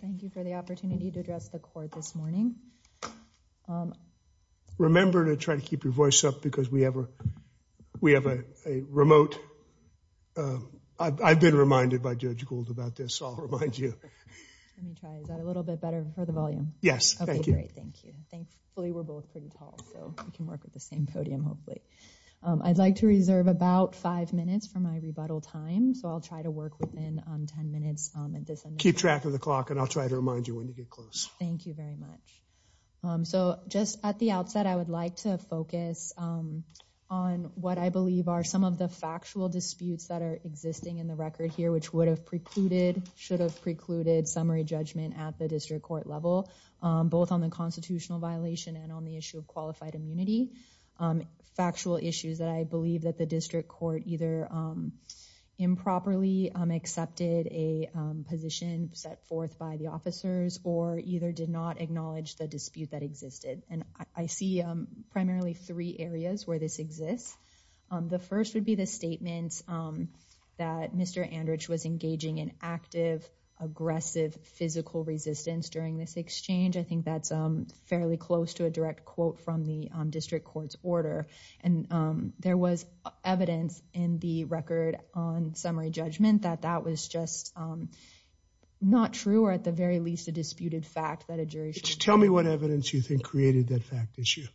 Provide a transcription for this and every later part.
Thank you for the opportunity to address the court this morning. Remember to try to keep your voice up because we have a we have a remote. I've been reminded by Judge Gould about this. I'll remind you. Let me try. Is that a little bit better for the volume? Yes. Thank you. Great. Thank you. Thankfully, we're both pretty tall, so we can work with the same podium, hopefully. I'd like to reserve about five minutes for my rebuttal time. So I'll try to work within 10 minutes. Keep track of the clock and I'll try to remind you when to get close. Thank you very much. So just at the outset, I would like to focus on what I believe are some of the factual disputes that are existing in the record here, which would have precluded should have precluded summary judgment at the district court level, both on the constitutional violation and on the issue of qualified immunity. Factual issues that I believe that the district court either improperly accepted a position set forth by the officers or either did not acknowledge the dispute that existed. And I see primarily three areas where this exists. The first would be the statements that Mr. Andrich was engaging in active, aggressive, physical resistance during this exchange. I think that's fairly close to a direct quote from the district court's order. And there was evidence in the record on summary judgment that that was just not true or at the very least a disputed fact that a jury. Tell me what evidence you think created that fact issue.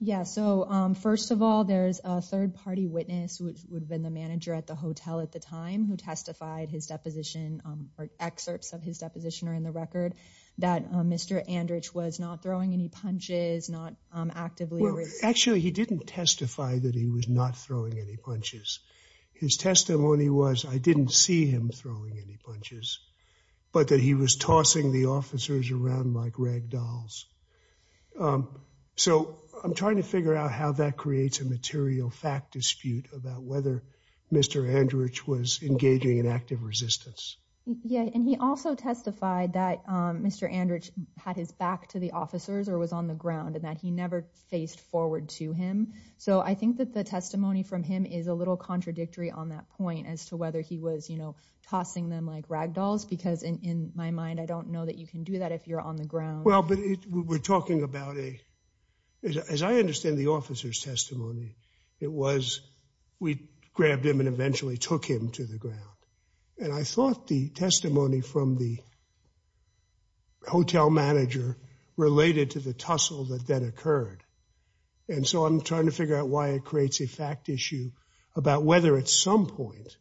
Yeah. So, first of all, there's a third party witness, which would have been the manager at the hotel at the time who testified his deposition or excerpts of his deposition or in the record that Mr. Andrich was not throwing any punches, not actively. Actually, he didn't testify that he was not throwing any punches. His testimony was I didn't see him throwing any punches, but that he was tossing the officers around like ragdolls. So I'm trying to figure out how that creates a material fact dispute about whether Mr. Andrich was engaging in active resistance. Yeah. And he also testified that Mr. Andrich had his back to the officers or was on the ground and that he never faced forward to him. So I think that the testimony from him is a little contradictory on that point as to whether he was, you know, tossing them like ragdolls, because in my mind, I don't know that you can do that if you're on the ground. Well, but we're talking about a as I understand the officer's testimony. It was we grabbed him and eventually took him to the ground. And I thought the testimony from the. Hotel manager related to the tussle that that occurred. And so I'm trying to figure out why it creates a fact issue about whether at some point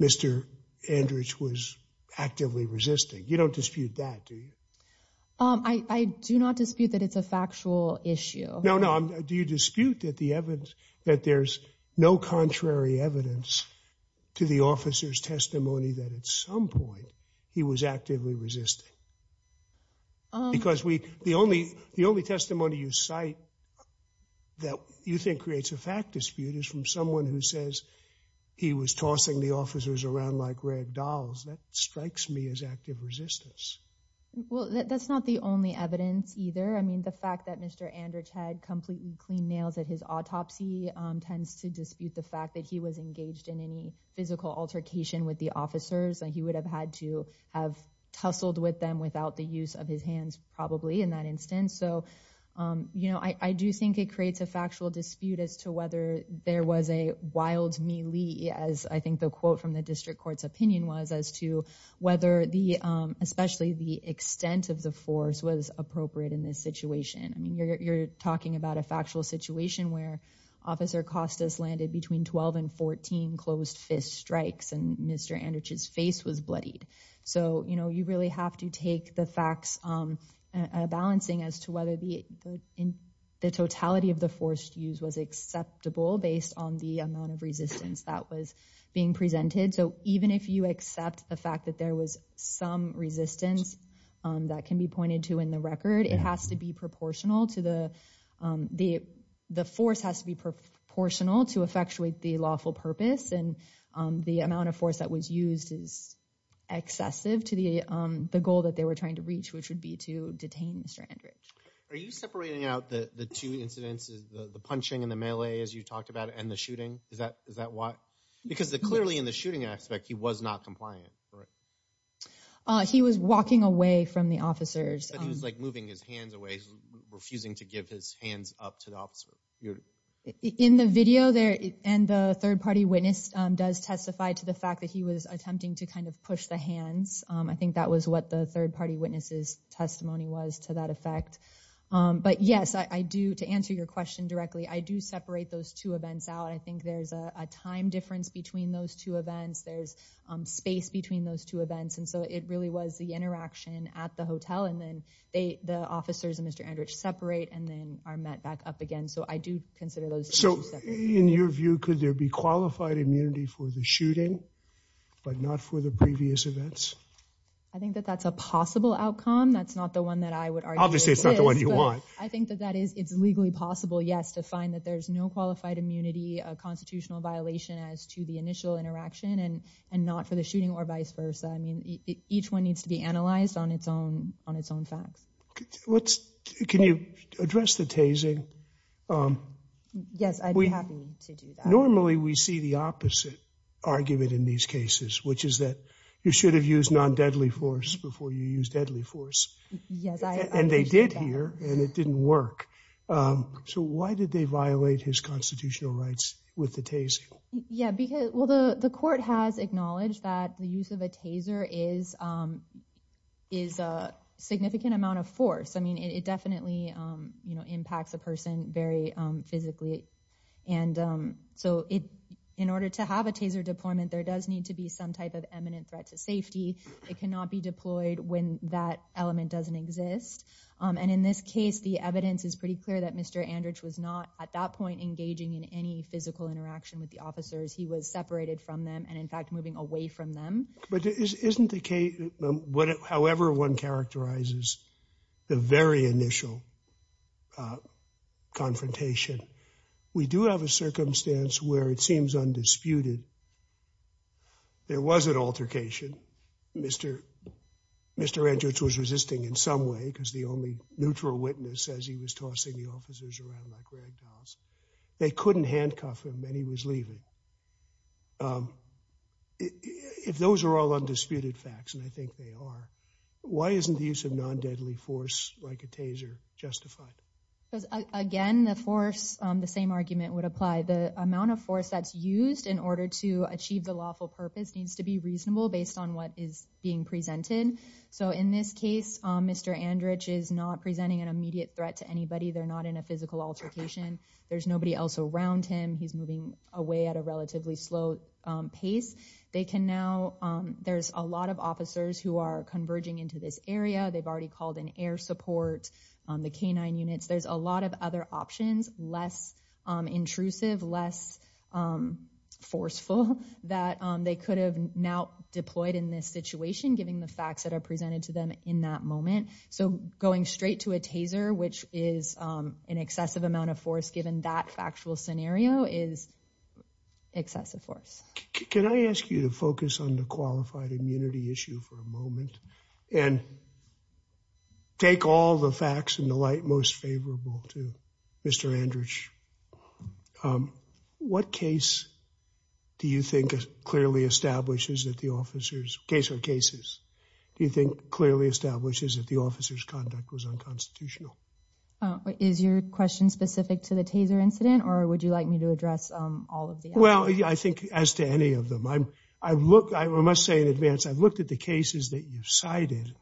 Mr. Andrich was actively resisting. You don't dispute that, do you? I do not dispute that it's a factual issue. No, no. Do you dispute that the evidence that there's no contrary evidence to the officer's testimony that at some point he was actively resisting? Because we the only the only testimony you cite that you think creates a fact dispute is from someone who says he was tossing the officers around like ragdolls. That strikes me as active resistance. Well, that's not the only evidence either. I mean, the fact that Mr. Andrich had completely clean nails at his autopsy tends to dispute the fact that he was engaged in any physical altercation with the officers. And he would have had to have tussled with them without the use of his hands, probably in that instance. So, you know, I do think it creates a factual dispute as to whether there was a wild melee. As I think the quote from the district court's opinion was as to whether the especially the extent of the force was appropriate in this situation. I mean, you're talking about a factual situation where Officer Costas landed between 12 and 14 closed fist strikes and Mr. Andrich's face was bloodied. So, you know, you really have to take the facts balancing as to whether the in the totality of the forced use was acceptable based on the amount of resistance that was being presented. So even if you accept the fact that there was some resistance that can be pointed to in the record, it has to be proportional to the the the force has to be proportional to effectuate the lawful purpose. And the amount of force that was used is excessive to the goal that they were trying to reach, which would be to detain Mr. Andrich. Are you separating out the two incidences, the punching and the melee, as you talked about, and the shooting? Is that is that why? Because clearly in the shooting aspect, he was not compliant. He was walking away from the officers. He was like moving his hands away, refusing to give his hands up to the officer. In the video there and the third party witness does testify to the fact that he was attempting to kind of push the hands. I think that was what the third party witnesses testimony was to that effect. But yes, I do. To answer your question directly, I do separate those two events out. I think there's a time difference between those two events. There's space between those two events. And so it really was the interaction at the hotel. And then they the officers and Mr. Andrich separate and then are met back up again. So I do consider those. So in your view, could there be qualified immunity for the shooting, but not for the previous events? I think that that's a possible outcome. That's not the one that I would argue. Obviously, it's not the one you want. I think that that is it's legally possible, yes, to find that there's no qualified immunity, a constitutional violation as to the initial interaction and and not for the shooting or vice versa. I mean, each one needs to be analyzed on its own, on its own facts. Can you address the tasing? Yes, I'd be happy to do that. Normally we see the opposite argument in these cases, which is that you should have used non deadly force before you use deadly force. Yes. And they did here and it didn't work. So why did they violate his constitutional rights with the tase? Yeah, because, well, the court has acknowledged that the use of a taser is is a significant amount of force. I mean, it definitely impacts a person very physically. And so it in order to have a taser deployment, there does need to be some type of eminent threat to safety. It cannot be deployed when that element doesn't exist. And in this case, the evidence is pretty clear that Mr. Andrich was not at that point engaging in any physical interaction with the officers. He was separated from them and in fact, moving away from them. But isn't the case, however, one characterizes the very initial confrontation. We do have a circumstance where it seems undisputed. There was an altercation. Mr. Mr. Andrich was resisting in some way because the only neutral witness says he was tossing the officers around like rag dolls. They couldn't handcuff him and he was leaving. If those are all undisputed facts, and I think they are, why isn't the use of non deadly force like a taser justified? Again, the force, the same argument would apply. The amount of force that's used in order to achieve the lawful purpose needs to be reasonable based on what is being presented. So in this case, Mr. Andrich is not presenting an immediate threat to anybody. They're not in a physical altercation. There's nobody else around him. He's moving away at a relatively slow pace. They can now there's a lot of officers who are converging into this area. They've already called an air support on the canine units. There's a lot of other options, less intrusive, less forceful that they could have now deployed in this situation, giving the facts that are presented to them in that moment. So going straight to a taser, which is an excessive amount of force, given that factual scenario is excessive force. Can I ask you to focus on the qualified immunity issue for a moment and. Take all the facts in the light most favorable to Mr. Andrich. What case do you think clearly establishes that the officers case or cases do you think clearly establishes that the officers conduct was unconstitutional? Is your question specific to the taser incident or would you like me to address all of the. Well, I think as to any of them, I look, I must say in advance, I've looked at the cases that you cited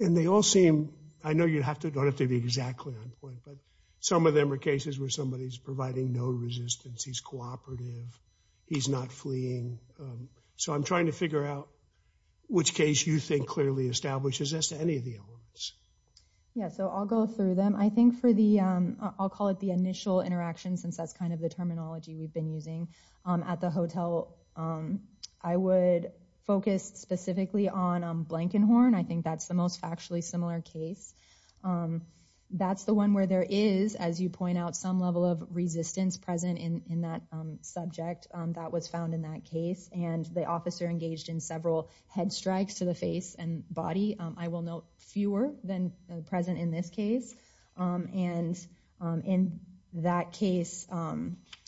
and they all seem. I know you'd have to don't have to be exactly on point, but some of them are cases where somebody is providing no resistance. He's cooperative. He's not fleeing. So I'm trying to figure out which case you think clearly establishes as to any of the elements. Yeah, so I'll go through them, I think, for the I'll call it the initial interaction, since that's kind of the terminology we've been using at the hotel. I would focus specifically on Blankenhorn. I think that's the most factually similar case. That's the one where there is, as you point out, some level of resistance present in that subject that was found in that case. And the officer engaged in several head strikes to the face and body, I will note, fewer than present in this case. And in that case,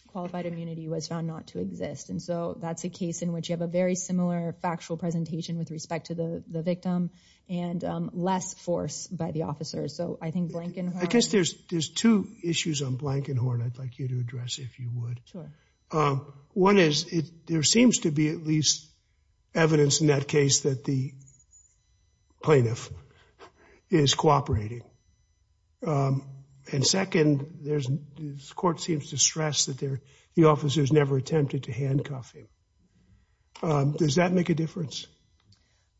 qualified immunity was found not to exist. And so that's a case in which you have a very similar factual presentation with respect to the victim and less force by the officers. So I think Blankenhorn. I guess there's there's two issues on Blankenhorn I'd like you to address, if you would. Sure. One is it there seems to be at least evidence in that case that the plaintiff is cooperating. And second, there's this court seems to stress that they're the officers never attempted to handcuff him. Does that make a difference?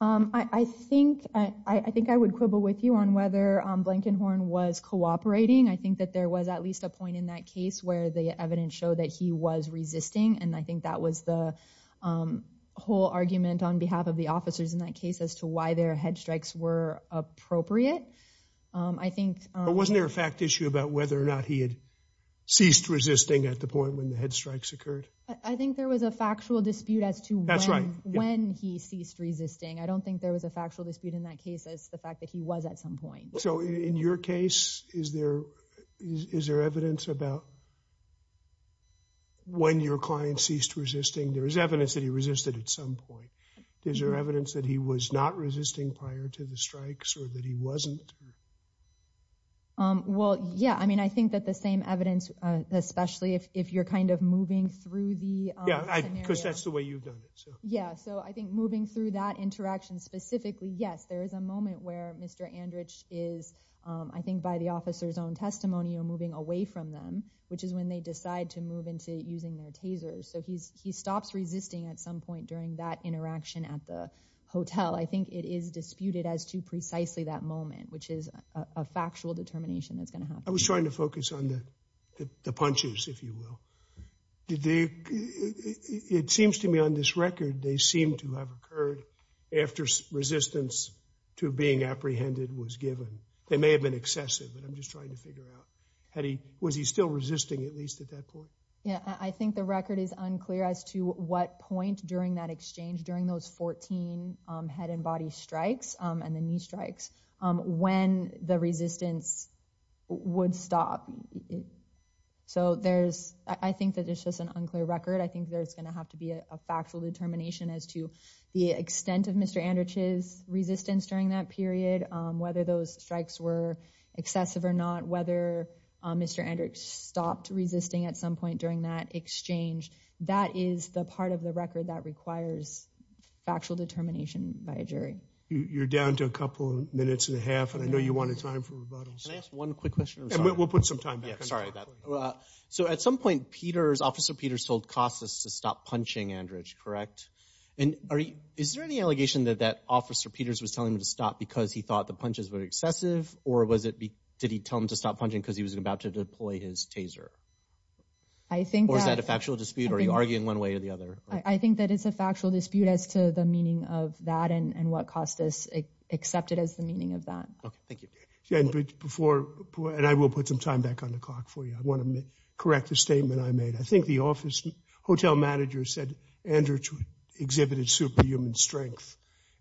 I think I think I would quibble with you on whether Blankenhorn was cooperating. I think that there was at least a point in that case where the evidence showed that he was resisting. And I think that was the whole argument on behalf of the officers in that case as to why their head strikes were appropriate. I think it wasn't there a fact issue about whether or not he had ceased resisting at the point when the head strikes occurred. I think there was a factual dispute as to that's right when he ceased resisting. I don't think there was a factual dispute in that case as the fact that he was at some point. So in your case, is there is there evidence about. When your client ceased resisting, there is evidence that he resisted at some point. Is there evidence that he was not resisting prior to the strikes or that he wasn't? Well, yeah, I mean, I think that the same evidence, especially if you're kind of moving through the. Yeah, because that's the way you've done it. Yeah. So I think moving through that interaction specifically, yes, there is a moment where Mr. Andrich is, I think, by the officer's own testimony or moving away from them, which is when they decide to move into using their tasers. So he's he stops resisting at some point during that interaction at the hotel. I think it is disputed as to precisely that moment, which is a factual determination that's going to happen. I was trying to focus on the punches, if you will. It seems to me on this record, they seem to have occurred after resistance to being apprehended was given. They may have been excessive, but I'm just trying to figure out how he was. He's still resisting, at least at that point. Yeah, I think the record is unclear as to what point during that exchange, during those 14 head and body strikes and the knee strikes, when the resistance would stop. So there's I think that it's just an unclear record. I think there's going to have to be a factual determination as to the extent of Mr. Andrich's resistance during that period, whether those strikes were excessive or not, whether Mr. Andrich stopped resisting at some point during that exchange. That is the part of the record that requires factual determination by a jury. You're down to a couple of minutes and a half. And I know you wanted time for rebuttals. Can I ask one quick question? We'll put some time. Yeah, sorry. So at some point, Peters, Officer Peters told Cossus to stop punching Andrich, correct? And is there any allegation that that Officer Peters was telling him to stop because he thought the punches were excessive? Or was it did he tell him to stop punching because he was about to deploy his taser? I think. Or is that a factual dispute? Are you arguing one way or the other? I think that it's a factual dispute as to the meaning of that and what Cossus accepted as the meaning of that. Thank you. And I will put some time back on the clock for you. I want to correct the statement I made. I think the office hotel manager said Andrich exhibited superhuman strength.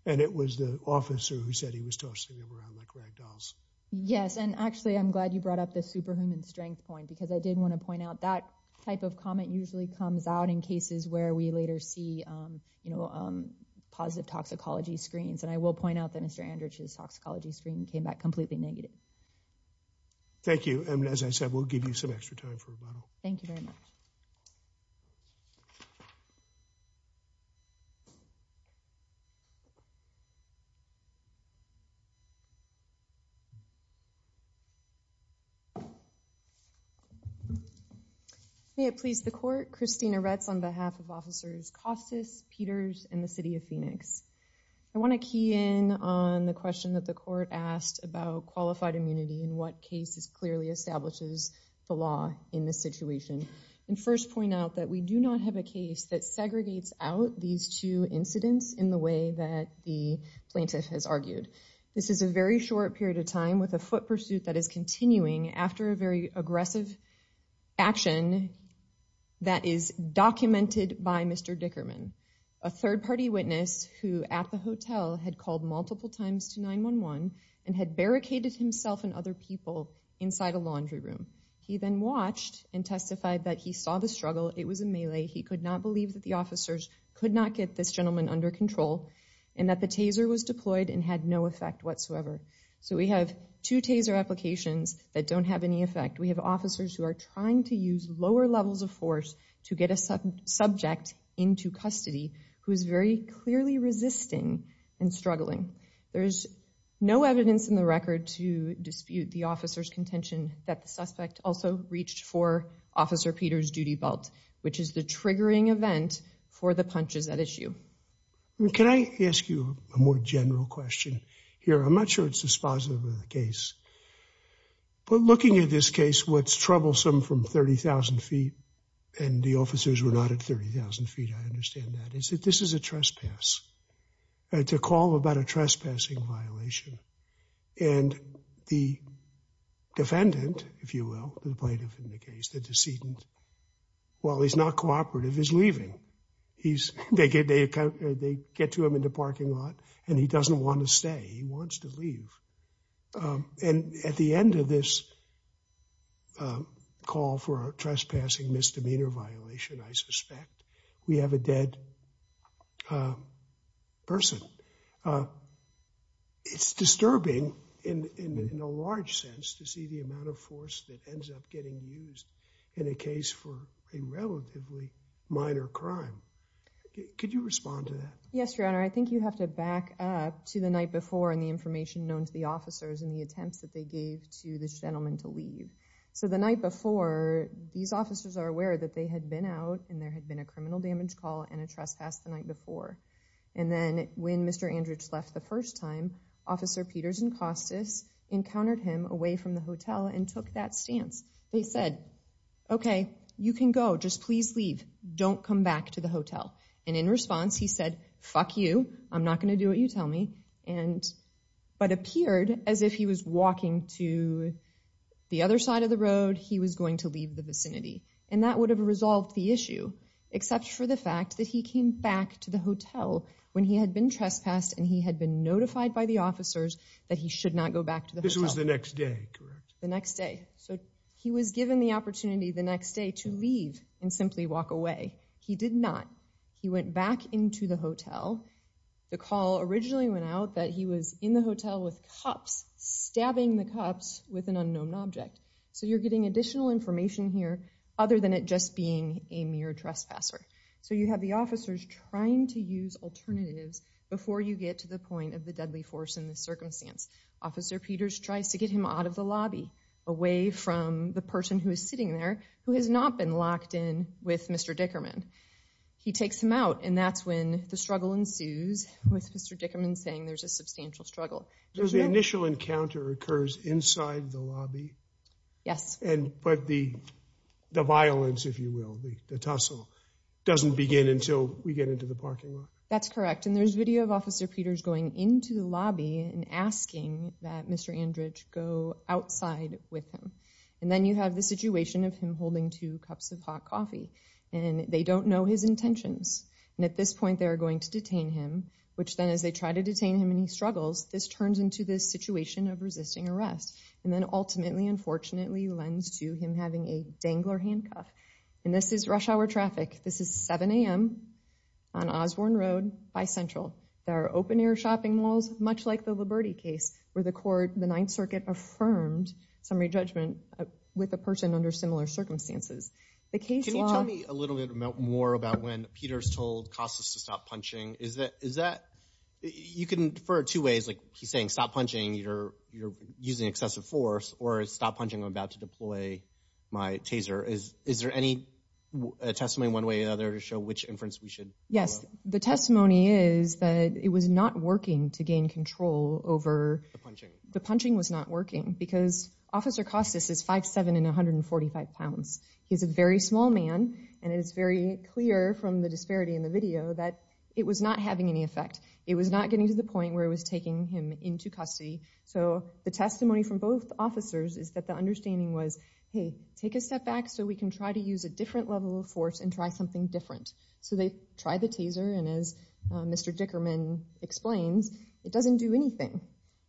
And it was the officer who said he was tossing him around like ragdolls. Yes. And actually, I'm glad you brought up the superhuman strength point because I did want to point out that type of comment usually comes out in cases where we later see, you know, positive toxicology screens. And I will point out that Mr. Andrich's toxicology screen came back completely negative. Thank you. And as I said, we'll give you some extra time for rebuttal. Thank you very much. May it please the court. Christina Retz on behalf of officers Cossus, Peters and the city of Phoenix. I want to key in on the question that the court asked about qualified immunity and what cases clearly establishes the law in this situation. And first point out that we do not have a case that segregates out these two incidents in the way that the plaintiff has argued. This is a very short period of time with a foot pursuit that is continuing after a very aggressive action. That is documented by Mr. Dickerman, a third party witness who at the hotel had called multiple times to 911 and had barricaded himself and other people inside a laundry room. He then watched and testified that he saw the struggle. It was a melee. He could not believe that the officers could not get this gentleman under control and that the taser was deployed and had no effect whatsoever. So we have two taser applications that don't have any effect. We have officers who are trying to use lower levels of force to get a subject into custody who is very clearly resisting and struggling. There is no evidence in the record to dispute the officer's contention that the suspect also reached for Officer Peter's duty belt, which is the triggering event for the punches at issue. Can I ask you a more general question here? I'm not sure it's dispositive of the case. But looking at this case, what's troublesome from 30,000 feet and the officers were not at 30,000 feet, I understand that, is that this is a trespass. It's a call about a trespassing violation. And the defendant, if you will, the plaintiff in the case, the decedent, while he's not cooperative, is leaving. They get to him in the parking lot and he doesn't want to stay. He wants to leave. And at the end of this call for a trespassing misdemeanor violation, I suspect we have a dead person. It's disturbing in a large sense to see the amount of force that ends up getting used in a case for a relatively minor crime. Could you respond to that? Yes, Your Honor. I think you have to back up to the night before and the information known to the officers and the attempts that they gave to this gentleman to leave. So the night before, these officers are aware that they had been out and there had been a criminal damage call and a trespass the night before. And then when Mr. Andrich left the first time, Officer Peters and Costas encountered him away from the hotel and took that stance. They said, OK, you can go. Just please leave. Don't come back to the hotel. And in response, he said, fuck you. I'm not going to do what you tell me. But it appeared as if he was walking to the other side of the road. He was going to leave the vicinity. And that would have resolved the issue, except for the fact that he came back to the hotel when he had been trespassed and he had been notified by the officers that he should not go back to the hotel. This was the next day, correct? The next day. So he was given the opportunity the next day to leave and simply walk away. He did not. He went back into the hotel. The call originally went out that he was in the hotel with cops stabbing the cops with an unknown object. So you're getting additional information here other than it just being a mere trespasser. So you have the officers trying to use alternatives before you get to the point of the deadly force in this circumstance. Officer Peters tries to get him out of the lobby, away from the person who is sitting there who has not been locked in with Mr. Dickerman. He takes him out and that's when the struggle ensues with Mr. Dickerman saying there's a substantial struggle. Does the initial encounter occurs inside the lobby? Yes. But the violence, if you will, the tussle, doesn't begin until we get into the parking lot. That's correct. And there's video of Officer Peters going into the lobby and asking that Mr. Andridge go outside with him. And then you have the situation of him holding two cups of hot coffee. And they don't know his intentions. And at this point they're going to detain him, which then as they try to detain him and he struggles, this turns into this situation of resisting arrest. And then ultimately, unfortunately, lends to him having a dangler handcuff. And this is rush hour traffic. This is 7 a.m. on Osborne Road by Central. There are open-air shopping malls, much like the Liberty case, where the court, the Ninth Circuit, affirmed summary judgment with a person under similar circumstances. Can you tell me a little bit more about when Peters told Costas to stop punching? Is that – you can defer two ways. Like he's saying stop punching, you're using excessive force, or stop punching, I'm about to deploy my taser. Is there any testimony one way or another to show which inference we should go with? Yes. The testimony is that it was not working to gain control over – The punching. The punching was not working because Officer Costas is 5'7 and 145 pounds. He's a very small man, and it is very clear from the disparity in the video that it was not having any effect. It was not getting to the point where it was taking him into custody. So the testimony from both officers is that the understanding was, hey, take a step back so we can try to use a different level of force and try something different. So they tried the taser, and as Mr. Dickerman explains, it doesn't do anything.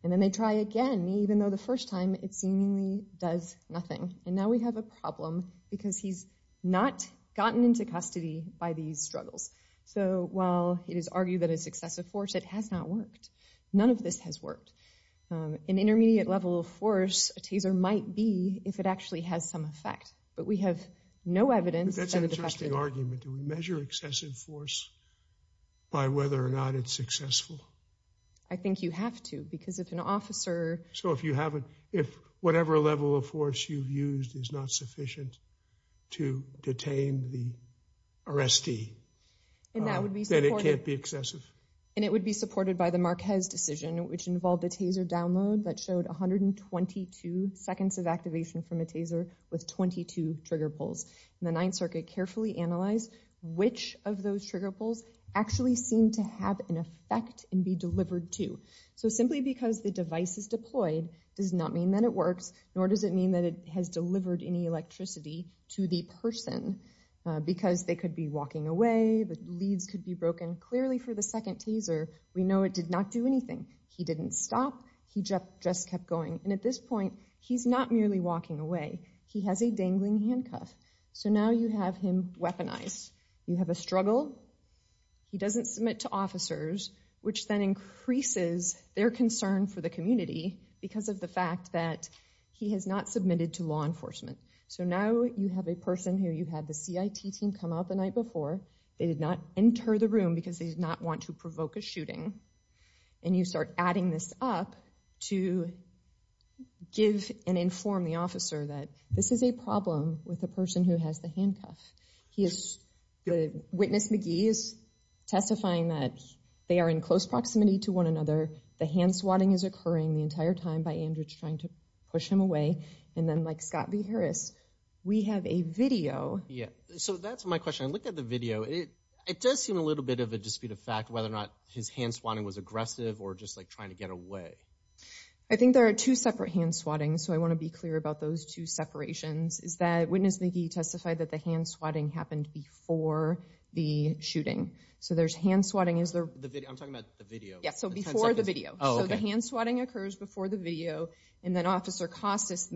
And then they try again, even though the first time it seemingly does nothing. And now we have a problem because he's not gotten into custody by these struggles. So while it is argued that it's excessive force, it has not worked. None of this has worked. An intermediate level of force, a taser might be if it actually has some effect. But we have no evidence – That's an interesting argument. Do we measure excessive force by whether or not it's successful? I think you have to because if an officer – So if you haven't – if whatever level of force you've used is not sufficient to detain the arrestee, then it can't be excessive. And it would be supported by the Marquez decision, which involved a taser download that showed 122 seconds of activation from a taser with 22 trigger pulls. And the Ninth Circuit carefully analyzed which of those trigger pulls actually seemed to have an effect and be delivered to. So simply because the device is deployed does not mean that it works, nor does it mean that it has delivered any electricity to the person. Because they could be walking away, the leads could be broken. Clearly for the second taser, we know it did not do anything. He didn't stop. He just kept going. And at this point, he's not merely walking away. He has a dangling handcuff. So now you have him weaponized. You have a struggle. He doesn't submit to officers, which then increases their concern for the community because of the fact that he has not submitted to law enforcement. So now you have a person who you had the CIT team come out the night before. They did not enter the room because they did not want to provoke a shooting. And you start adding this up to give and inform the officer that this is a problem with a person who has the handcuff. Witness McGee is testifying that they are in close proximity to one another. The hand swatting is occurring the entire time by Andrew trying to push him away. And then like Scott B. Harris, we have a video. Yeah, so that's my question. I looked at the video. It does seem a little bit of a dispute of fact whether or not his hand swatting was aggressive or just like trying to get away. I think there are two separate hand swattings, so I want to be clear about those two separations. Witness McGee testified that the hand swatting happened before the shooting. So there's hand swatting. I'm talking about the video. Yeah, so before the video. Oh, okay. So the hand swatting occurs before the video, and then Officer Costis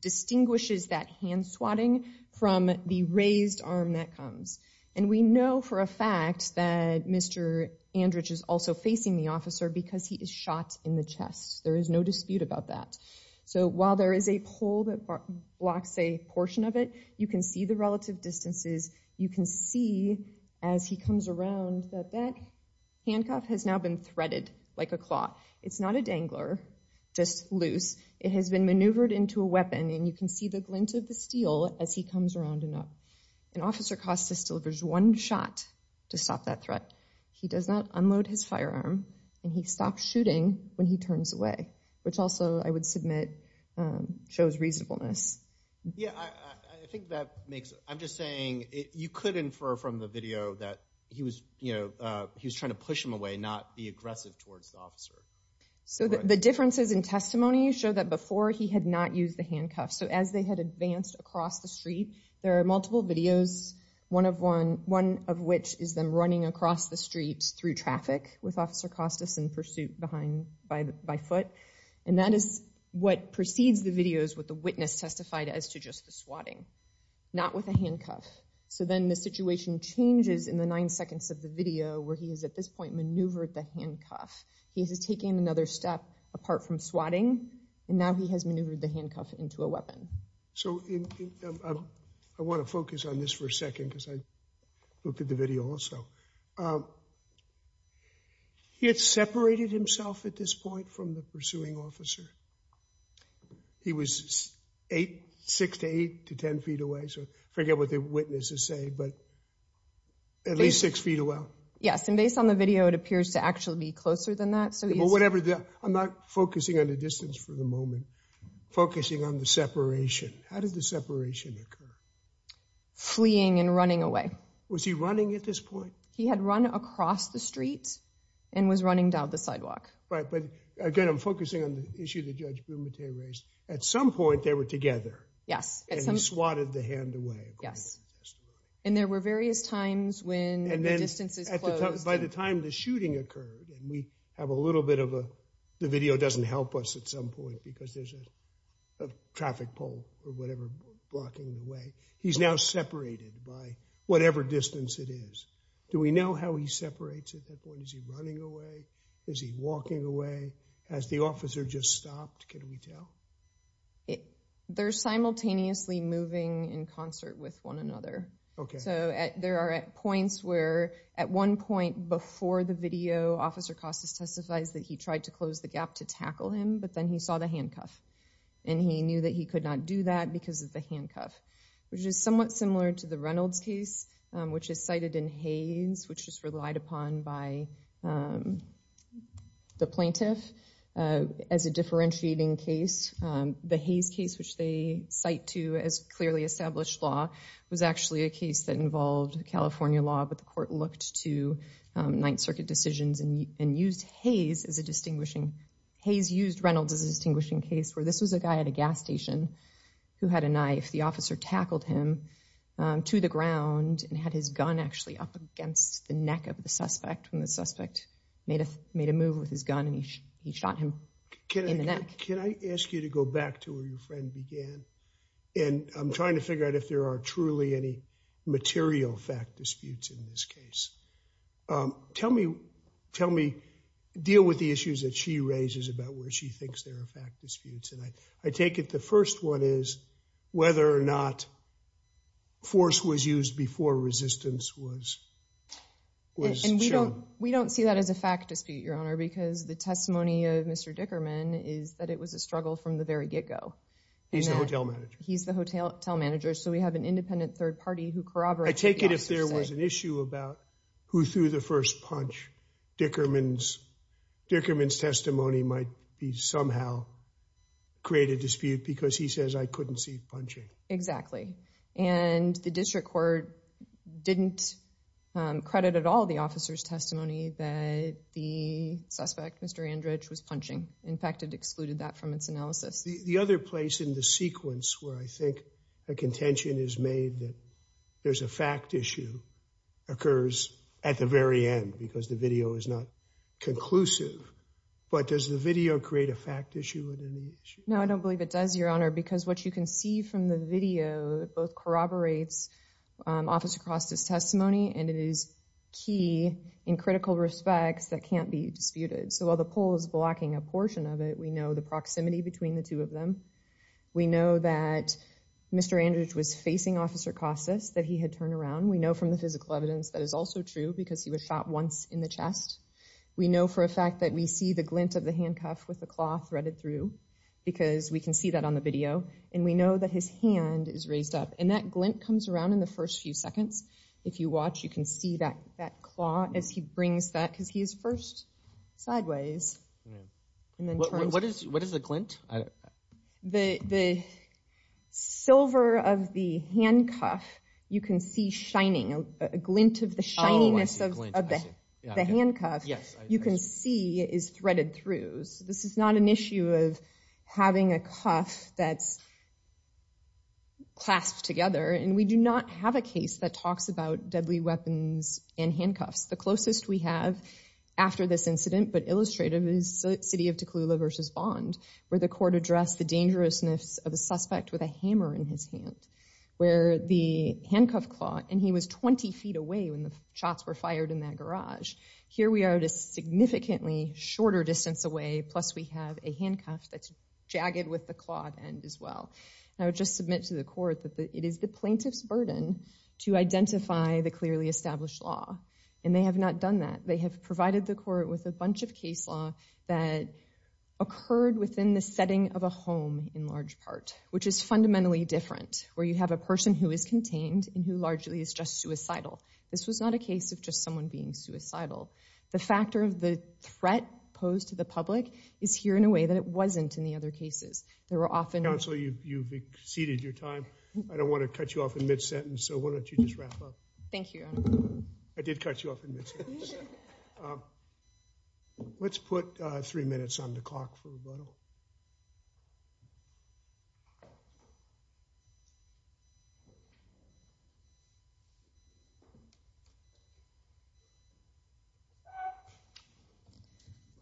distinguishes that hand swatting from the raised arm that comes. And we know for a fact that Mr. Andridge is also facing the officer because he is shot in the chest. There is no dispute about that. So while there is a pole that blocks a portion of it, you can see the relative distances. You can see as he comes around that that handcuff has now been threaded like a claw. It's not a dangler, just loose. It has been maneuvered into a weapon, and you can see the glint of the steel as he comes around and up. And Officer Costis delivers one shot to stop that threat. He does not unload his firearm, and he stops shooting when he turns away, which also, I would submit, shows reasonableness. Yeah, I think that makes – I'm just saying you could infer from the video that he was trying to push him away, not be aggressive towards the officer. So the differences in testimony show that before he had not used the handcuffs. So as they had advanced across the street, there are multiple videos, one of which is them running across the street through traffic with Officer Costis in pursuit by foot. And that is what precedes the videos with the witness testified as to just the swatting, not with a handcuff. So then the situation changes in the nine seconds of the video where he has, at this point, maneuvered the handcuff. He has taken another step apart from swatting, and now he has maneuvered the handcuff into a weapon. So I want to focus on this for a second because I looked at the video also. He had separated himself at this point from the pursuing officer. He was six to eight to ten feet away, so forget what the witnesses say, but at least six feet away. Yes, and based on the video, it appears to actually be closer than that. I'm not focusing on the distance for the moment. Focusing on the separation. How did the separation occur? Fleeing and running away. Was he running at this point? He had run across the street and was running down the sidewalk. But again, I'm focusing on the issue that Judge Bumate raised. At some point, they were together. Yes. And he swatted the hand away, according to the testimony. And there were various times when the distances closed. By the time the shooting occurred, and we have a little bit of a—the video doesn't help us at some point because there's a traffic pole or whatever blocking the way. He's now separated by whatever distance it is. Do we know how he separates at that point? Is he running away? Is he walking away? Has the officer just stopped? Can we tell? They're simultaneously moving in concert with one another. Okay. So there are points where at one point before the video, Officer Costas testifies that he tried to close the gap to tackle him, but then he saw the handcuff. And he knew that he could not do that because of the handcuff, which is somewhat similar to the Reynolds case, which is cited in Hayes, which is relied upon by the plaintiff as a differentiating case. The Hayes case, which they cite to as clearly established law, was actually a case that involved California law, but the court looked to Ninth Circuit decisions and used Hayes as a distinguishing— Hayes used Reynolds as a distinguishing case where this was a guy at a gas station who had a knife. The officer tackled him to the ground and had his gun actually up against the neck of the suspect. And the suspect made a move with his gun and he shot him in the neck. Can I ask you to go back to where your friend began? And I'm trying to figure out if there are truly any material fact disputes in this case. Tell me, deal with the issues that she raises about where she thinks there are fact disputes. And I take it the first one is whether or not force was used before resistance was shown. We don't see that as a fact dispute, Your Honor, because the testimony of Mr. Dickerman is that it was a struggle from the very get-go. He's the hotel manager. He's the hotel manager, so we have an independent third party who corroborates what the officers say. I take it if there was an issue about who threw the first punch, Dickerman's testimony might somehow create a dispute because he says, I couldn't see punching. Exactly. And the district court didn't credit at all the officer's testimony that the suspect, Mr. Andridge, was punching. In fact, it excluded that from its analysis. The other place in the sequence where I think a contention is made that there's a fact issue occurs at the very end because the video is not conclusive. But does the video create a fact issue? No, I don't believe it does, Your Honor, because what you can see from the video both corroborates Officer Costas' testimony and it is key in critical respects that can't be disputed. So while the poll is blocking a portion of it, we know the proximity between the two of them. We know that Mr. Andridge was facing Officer Costas, that he had turned around. We know from the physical evidence that is also true because he was shot once in the chest. We know for a fact that we see the glint of the handcuff with the claw threaded through because we can see that on the video. And we know that his hand is raised up. And that glint comes around in the first few seconds. If you watch, you can see that claw as he brings that because he is first sideways. What is the glint? The silver of the handcuff, you can see shining, a glint of the shininess of the handcuff, you can see is threaded through. So this is not an issue of having a cuff that's clasped together. And we do not have a case that talks about deadly weapons and handcuffs. The closest we have after this incident, but illustrative, is City of Tukalula v. Bond, where the court addressed the dangerousness of a suspect with a hammer in his hand, where the handcuff claw, and he was 20 feet away when the shots were fired in that garage. Here we are at a significantly shorter distance away, plus we have a handcuff that's jagged with the clawed end as well. I would just submit to the court that it is the plaintiff's burden to identify the clearly established law. And they have not done that. They have provided the court with a bunch of case law that occurred within the setting of a home in large part, which is fundamentally different, where you have a person who is contained and who largely is just suicidal. This was not a case of just someone being suicidal. The factor of the threat posed to the public is here in a way that it wasn't in the other cases. Counsel, you've exceeded your time. I don't want to cut you off in mid-sentence, so why don't you just wrap up. Thank you, Your Honor. I did cut you off in mid-sentence. Let's put three minutes on the clock for rebuttal.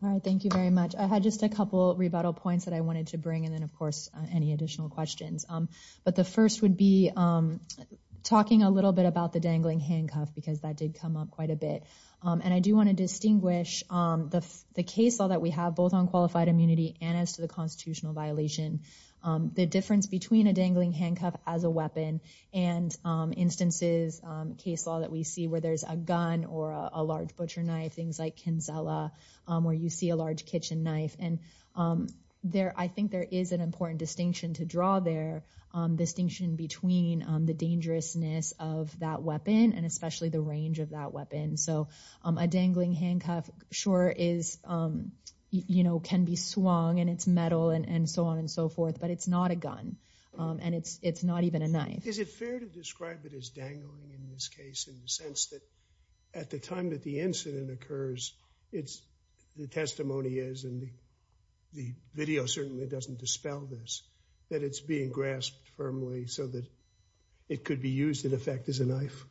All right, thank you very much. I had just a couple rebuttal points that I wanted to bring, and then, of course, any additional questions. But the first would be talking a little bit about the dangling handcuff, because that did come up quite a bit. And I do want to distinguish the case law that we have, both on qualified immunity and as to the constitutional violation, the difference between a dangling handcuff as a weapon and instances, case law, that we see where there's a gun or a large butcher knife, things like Kinsella, where you see a large kitchen knife. And I think there is an important distinction to draw there, distinction between the dangerousness of that weapon and especially the range of that weapon. So a dangling handcuff sure can be swung, and it's metal and so on and so forth, but it's not a gun, and it's not even a knife. Is it fair to describe it as dangling in this case in the sense that at the time that the incident occurs, the testimony is, and the video certainly doesn't dispel this, that it's being grasped firmly so that it could be used in effect as a knife?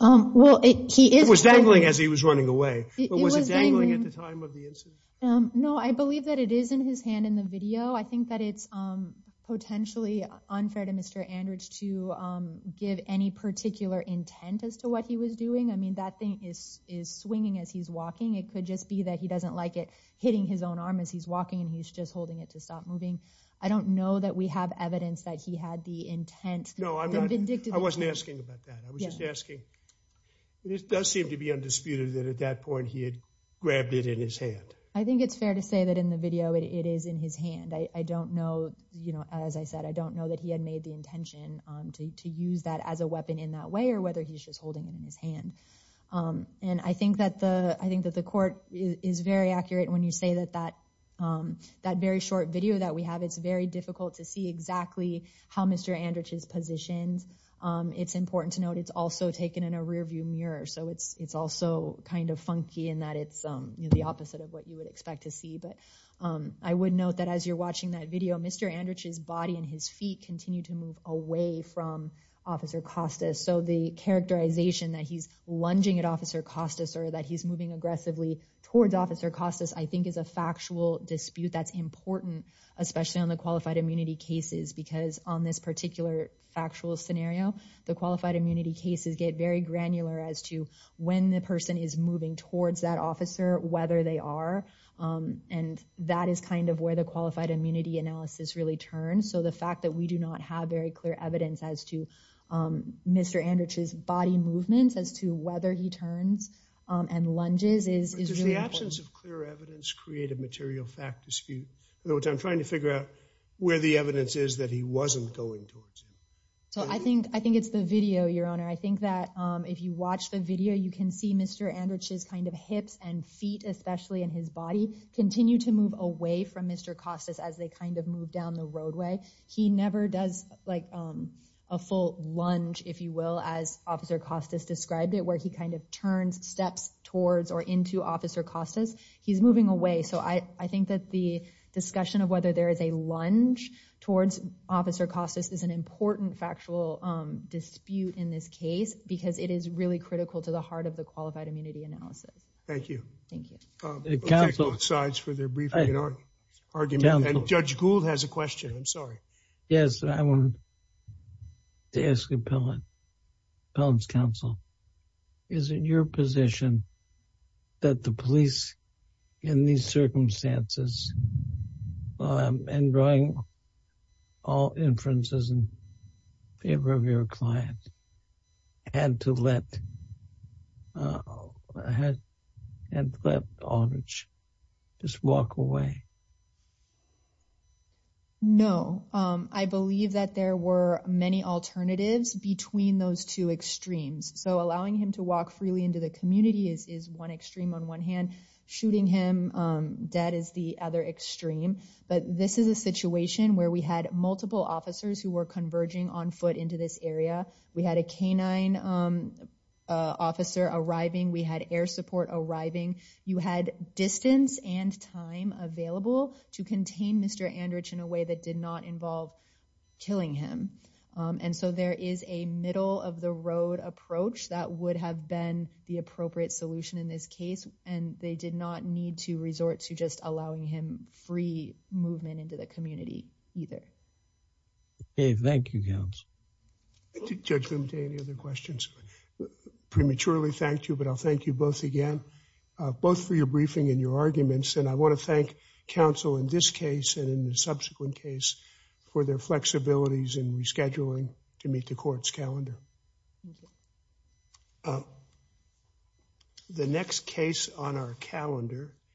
It was dangling as he was running away. But was it dangling at the time of the incident? No, I believe that it is in his hand in the video. I think that it's potentially unfair to Mr. Andridge to give any particular intent as to what he was doing. I mean, that thing is swinging as he's walking. It could just be that he doesn't like it hitting his own arm as he's walking, and he's just holding it to stop moving. I don't know that we have evidence that he had the intent. No, I wasn't asking about that. I was just asking. It does seem to be undisputed that at that point he had grabbed it in his hand. I think it's fair to say that in the video it is in his hand. I don't know, as I said, I don't know that he had made the intention to use that as a weapon in that way or whether he's just holding it in his hand. And I think that the court is very accurate when you say that that very short video that we have, it's very difficult to see exactly how Mr. Andridge is positioned. It's important to note it's also taken in a rearview mirror, so it's also kind of funky in that it's the opposite of what you would expect to see. But I would note that as you're watching that video, Mr. Andridge's body and his feet continue to move away from Officer Costas. So the characterization that he's lunging at Officer Costas or that he's moving aggressively towards Officer Costas I think is a factual dispute that's important, especially on the qualified immunity cases, because on this particular factual scenario, the qualified immunity cases get very granular as to when the person is moving towards that officer, whether they are. And that is kind of where the qualified immunity analysis really turns. So the fact that we do not have very clear evidence as to Mr. Andridge's body movements, as to whether he turns and lunges is really important. Does the absence of clear evidence create a material fact dispute? I'm trying to figure out where the evidence is that he wasn't going towards him. So I think I think it's the video, Your Honor. I think that if you watch the video, you can see Mr. Andridge's kind of hips and feet, especially in his body, continue to move away from Mr. Costas as they kind of move down the roadway. He never does like a full lunge, if you will, as Officer Costas described it, where he kind of turns steps towards or into Officer Costas. He's moving away. So I think that the discussion of whether there is a lunge towards Officer Costas is an important factual dispute in this case, because it is really critical to the heart of the qualified immunity analysis. Thank you. Thank you. Both sides for their brief argument. And Judge Gould has a question. I'm sorry. Yes, I wanted to ask you, Pelham's counsel. Is it your position that the police in these circumstances and drawing all inferences in favor of your client had to let Andridge just walk away? No, I believe that there were many alternatives between those two extremes. So allowing him to walk freely into the community is one extreme on one hand. Shooting him dead is the other extreme. But this is a situation where we had multiple officers who were converging on foot into this area. We had a canine officer arriving. We had air support arriving. You had distance and time available to contain Mr. Andridge in a way that did not involve killing him. And so there is a middle of the road approach that would have been the appropriate solution in this case. And they did not need to resort to just allowing him free movement into the community either. Thank you, counsel. Judge Gould, do you have any other questions? Prematurely, thank you, but I'll thank you both again, both for your briefing and your arguments. And I want to thank counsel in this case and in the subsequent case for their flexibilities in rescheduling to meet the court's calendar. The next case on our calendar.